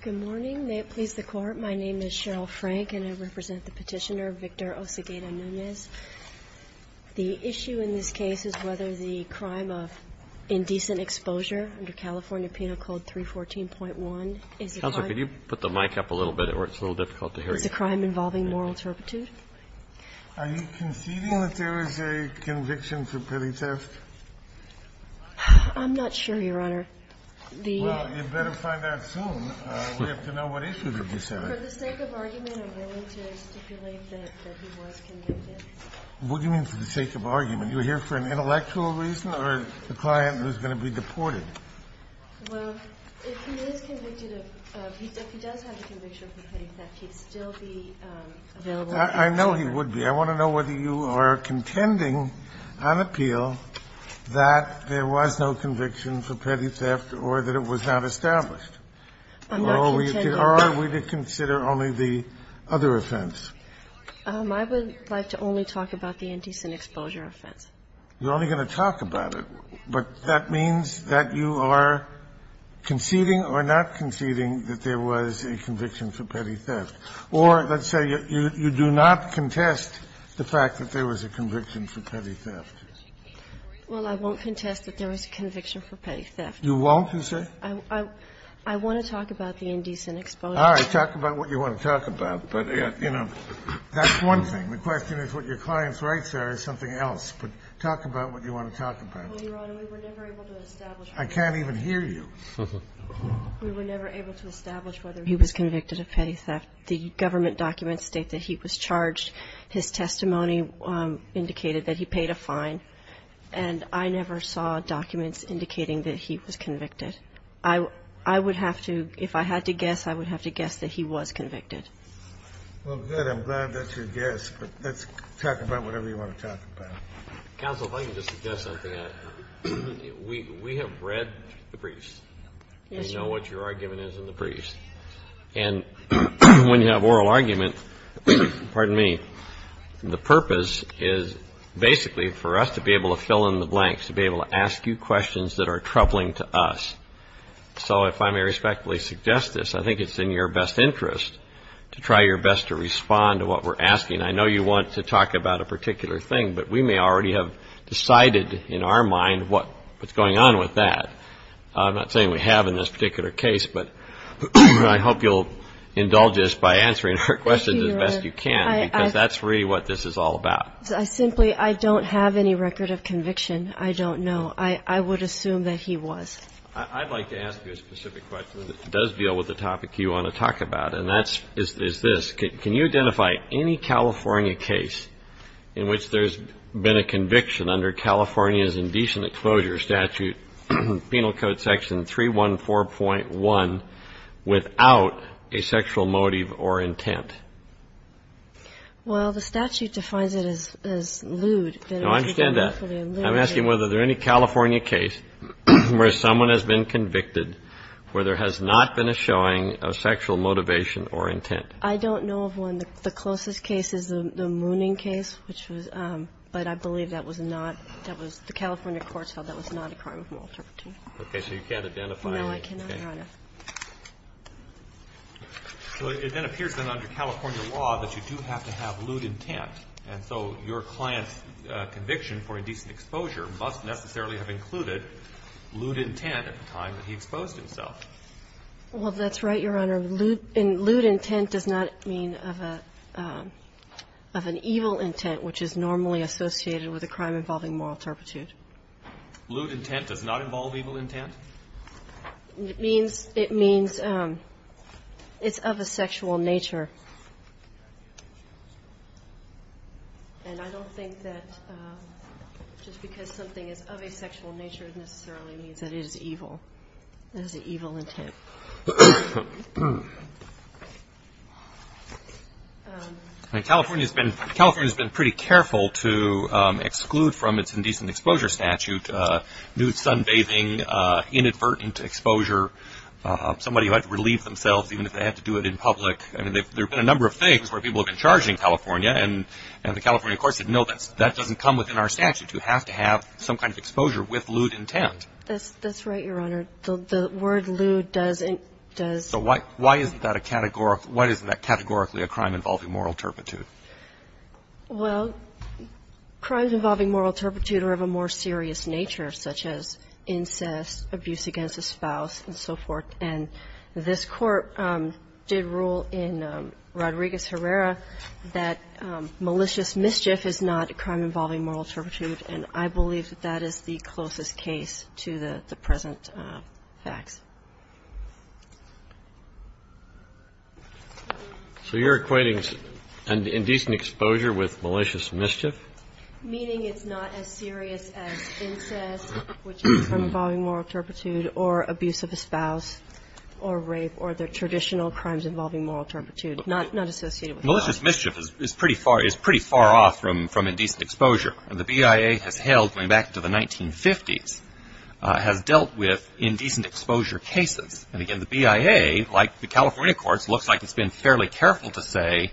Good morning. May it please the Court, my name is Cheryl Frank and I represent the petitioner, Victor Osequeda-Nunez. The issue in this case is whether the crime of indecent exposure under California Penal Code 314.1 is a crime. Counsel, could you put the mic up a little bit? It's a little difficult to hear you. Is the crime involving moral turpitude? Are you conceding that there is a conviction for petty theft? I'm not sure, Your Honor. Well, you'd better find out soon. We have to know what issue they're discussing. For the sake of argument, I'm willing to stipulate that he was convicted. What do you mean for the sake of argument? You're here for an intellectual reason or a client who's going to be deported? Well, if he is convicted of – if he does have the conviction for petty theft, he'd still be available? I know he would be. I want to know whether you are contending on appeal that there was no conviction for petty theft or that it was not established. I'm not contending. Or are we to consider only the other offense? I would like to only talk about the indecent exposure offense. You're only going to talk about it. But that means that you are conceding or not conceding that there was a conviction for petty theft. Or let's say you do not contest the fact that there was a conviction for petty theft. Well, I won't contest that there was a conviction for petty theft. You won't, you say? I want to talk about the indecent exposure. All right. Talk about what you want to talk about. But, you know, that's one thing. The question is what your client's rights are is something else. But talk about what you want to talk about. Well, Your Honor, we were never able to establish. I can't even hear you. We were never able to establish whether he was convicted of petty theft. The government documents state that he was charged. His testimony indicated that he paid a fine. And I never saw documents indicating that he was convicted. I would have to, if I had to guess, I would have to guess that he was convicted. Well, good. I'm glad that's your guess. But let's talk about whatever you want to talk about. Counsel, if I can just suggest something. We have read the briefs. We know what your argument is in the briefs. And when you have oral arguments, pardon me, the purpose is basically for us to be able to fill in the blanks, to be able to ask you questions that are troubling to us. So if I may respectfully suggest this, I think it's in your best interest to try your best to respond to what we're asking. I know you want to talk about a particular thing, but we may already have decided in our mind what's going on with that. I'm not saying we have in this particular case, but I hope you'll indulge us by answering our questions as best you can, because that's really what this is all about. I simply don't have any record of conviction. I don't know. I would assume that he was. I'd like to ask you a specific question that does deal with the topic you want to talk about, and that is this. Can you identify any California case in which there's been a conviction under California's indecent exposure statute, Penal Code Section 314.1, without a sexual motive or intent? Well, the statute defines it as lewd. I understand that. I'm asking whether there are any California case where someone has been convicted where there has not been a showing of sexual motivation or intent. I don't know of one. The closest case is the Mooning case, which was – but I believe that was not – that was – the California courts held that was not a crime of maltreatment. Okay. So you can't identify any. No, I cannot, Your Honor. Okay. So it then appears then under California law that you do have to have lewd intent. And so your client's conviction for indecent exposure must necessarily have included lewd intent at the time that he exposed himself. Well, that's right, Your Honor. And lewd intent does not mean of an evil intent, which is normally associated with a crime involving moral turpitude. Lewd intent does not involve evil intent? It means it's of a sexual nature. And I don't think that just because something is of a sexual nature necessarily means that it is evil. It is an evil intent. I mean, California has been pretty careful to exclude from its indecent exposure statute lewd sunbathing, inadvertent exposure, somebody who had to relieve themselves even if they had to do it in public. I mean, there have been a number of things where people have been charged in California, and the California courts said, no, that doesn't come within our statute. You have to have some kind of exposure with lewd intent. That's right, Your Honor. The word lewd doesn't do it. So why isn't that categorically a crime involving moral turpitude? Well, crimes involving moral turpitude are of a more serious nature, such as incest, abuse against a spouse, and so forth. And this Court did rule in Rodriguez-Herrera that malicious mischief is not a crime to the present facts. So you're equating indecent exposure with malicious mischief? Meaning it's not as serious as incest, which is a crime involving moral turpitude, or abuse of a spouse, or rape, or the traditional crimes involving moral turpitude, not associated with that. Malicious mischief is pretty far off from indecent exposure. And the BIA has held, going back to the 1950s, has dealt with indecent exposure cases. And again, the BIA, like the California courts, looks like it's been fairly careful to say,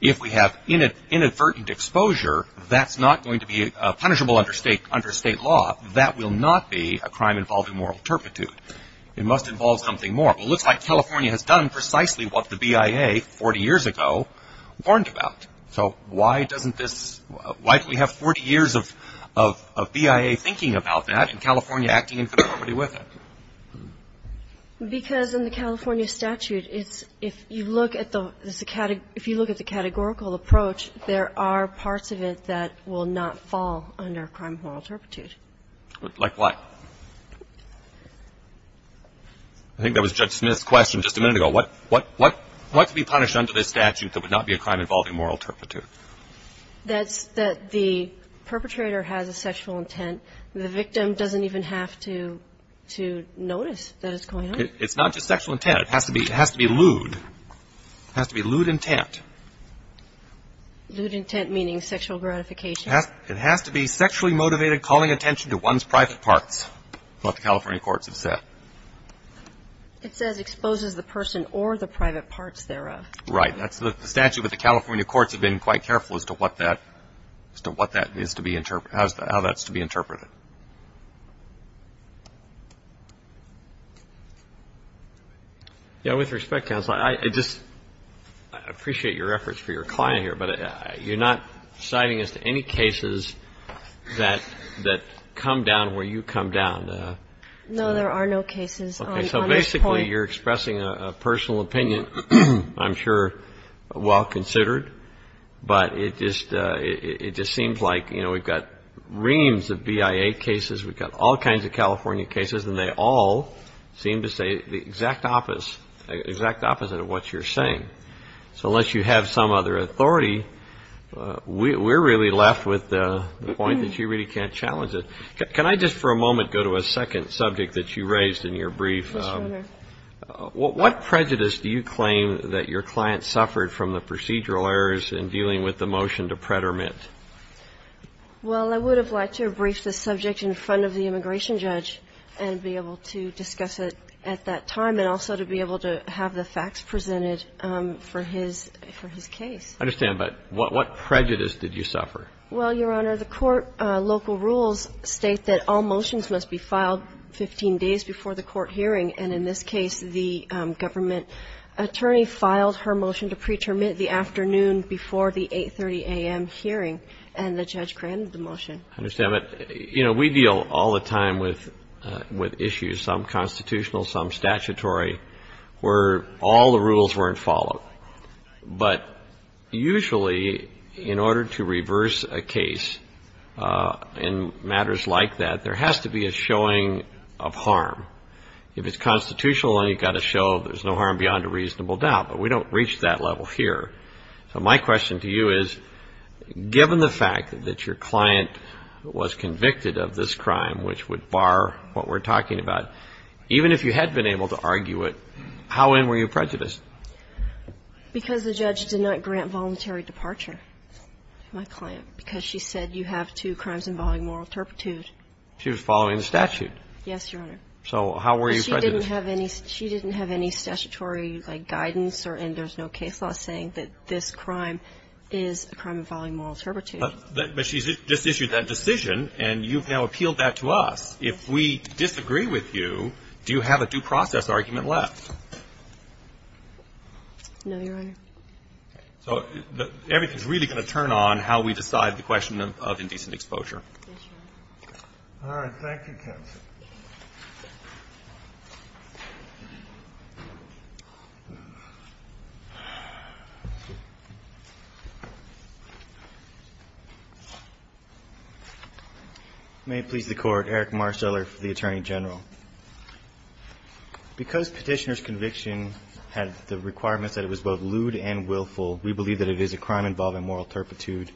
if we have inadvertent exposure, that's not going to be punishable under state law. That will not be a crime involving moral turpitude. It must involve something more. It looks like California has done precisely what the BIA 40 years ago warned about. So why doesn't this – why do we have 40 years of BIA thinking about that and California acting in conformity with it? Because in the California statute, it's – if you look at the – if you look at the categorical approach, there are parts of it that will not fall under crime of moral turpitude. Like what? I think that was Judge Smith's question just a minute ago. What could be punished under this statute that would not be a crime involving moral turpitude? That the perpetrator has a sexual intent. The victim doesn't even have to notice that it's going on. It's not just sexual intent. It has to be lewd. It has to be lewd intent. Lewd intent meaning sexual gratification? It has to be sexually motivated, calling attention to one's private parts, what the California courts have said. It says exposes the person or the private parts thereof. Right. That's the statute, but the California courts have been quite careful as to what that – as to what that is to be – how that's to be interpreted. Yeah, with respect, counsel, I just appreciate your efforts for your client here, but you're not citing as to any cases that come down where you come down. No, there are no cases on this point. Okay, so basically you're expressing a personal opinion, I'm sure, well considered, but it just seems like, you know, we've got reams of BIA cases, we've got all kinds of California cases, and they all seem to say the exact opposite of what you're saying. So unless you have some other authority, we're really left with the point that you really can't challenge it. Can I just for a moment go to a second subject that you raised in your brief? Yes, Your Honor. What prejudice do you claim that your client suffered from the procedural errors in dealing with the motion to prederment? Well, I would have liked to have briefed the subject in front of the immigration judge and be able to discuss it at that time and also to be able to have the facts presented for his case. I understand, but what prejudice did you suffer? Well, Your Honor, the court local rules state that all motions must be filed 15 days before the court hearing, and in this case the government attorney filed her motion to pretermine the afternoon before the 8.30 a.m. hearing, and the judge granted the motion. I understand, but, you know, we deal all the time with issues, some constitutional, some statutory, where all the rules weren't followed. But usually in order to reverse a case in matters like that, there has to be a showing of harm. If it's constitutional, then you've got to show there's no harm beyond a reasonable doubt, but we don't reach that level here. So my question to you is, given the fact that your client was convicted of this crime, which would bar what we're talking about, even if you had been able to argue it, how in were you prejudiced? Because the judge did not grant voluntary departure to my client, because she said you have two crimes involving moral turpitude. She was following the statute. Yes, Your Honor. So how were you prejudiced? She didn't have any statutory, like, guidance, and there's no case law saying that this crime is a crime involving moral turpitude. But she's just issued that decision, and you've now appealed that to us. If we disagree with you, do you have a due process argument left? No, Your Honor. So everything's really going to turn on how we decide the question of indecent exposure. Yes, Your Honor. All right. Thank you, counsel. May it please the Court. Eric Marcellor for the Attorney General. Because Petitioner's conviction had the requirements that it was both lewd and willful, we believe that it is a crime involving moral turpitude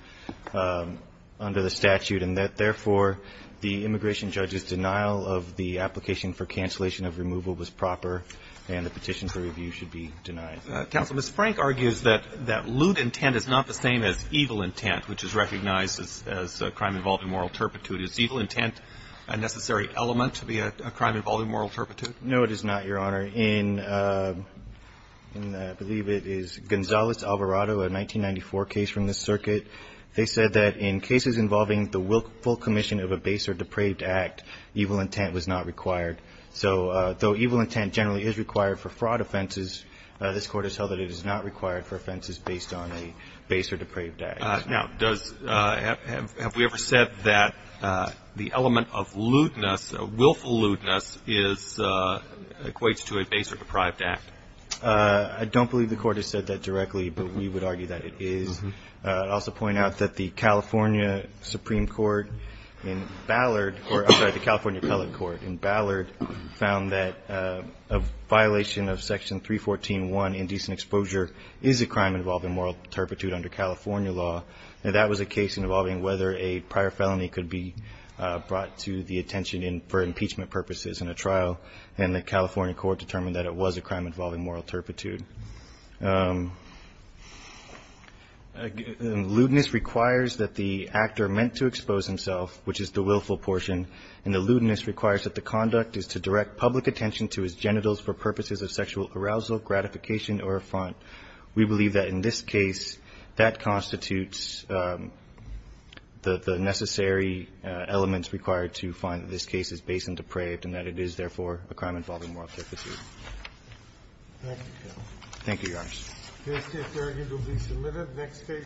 under the statute, and that, therefore, the immigration judge's denial of the application for cancellation of removal was proper, and the petition for review should be denied. Counsel, Ms. Frank argues that lewd intent is not the same as evil intent, which is recognized as a crime involving moral turpitude. Is evil intent a necessary element to be a crime involving moral turpitude? No, it is not, Your Honor. In, I believe it is Gonzales-Alvarado, a 1994 case from this circuit, they said that in cases involving the willful commission of a base or depraved act, evil intent was not required. So though evil intent generally is required for fraud offenses, this Court has held that it is not required for offenses based on a base or depraved Now, does, have we ever said that the element of lewdness, willful lewdness is, equates to a base or deprived act? I don't believe the Court has said that directly, but we would argue that it is. I'd also point out that the California Supreme Court in Ballard, or I'm sorry, the California Appellate Court in Ballard, found that a violation of Section 314.1, indecent exposure, is a crime involving moral turpitude under California law. That was a case involving whether a prior felony could be brought to the attention for impeachment purposes in a trial, and the California Court determined that it was a crime involving moral turpitude. Lewdness requires that the actor meant to expose himself, which is the willful portion, and the lewdness requires that the conduct is to direct public attention to his We believe that in this case, that constitutes the necessary elements required to find that this case is base and depraved, and that it is, therefore, a crime involving moral turpitude. Thank you. Thank you, Your Honor. This case, there again, will be submitted.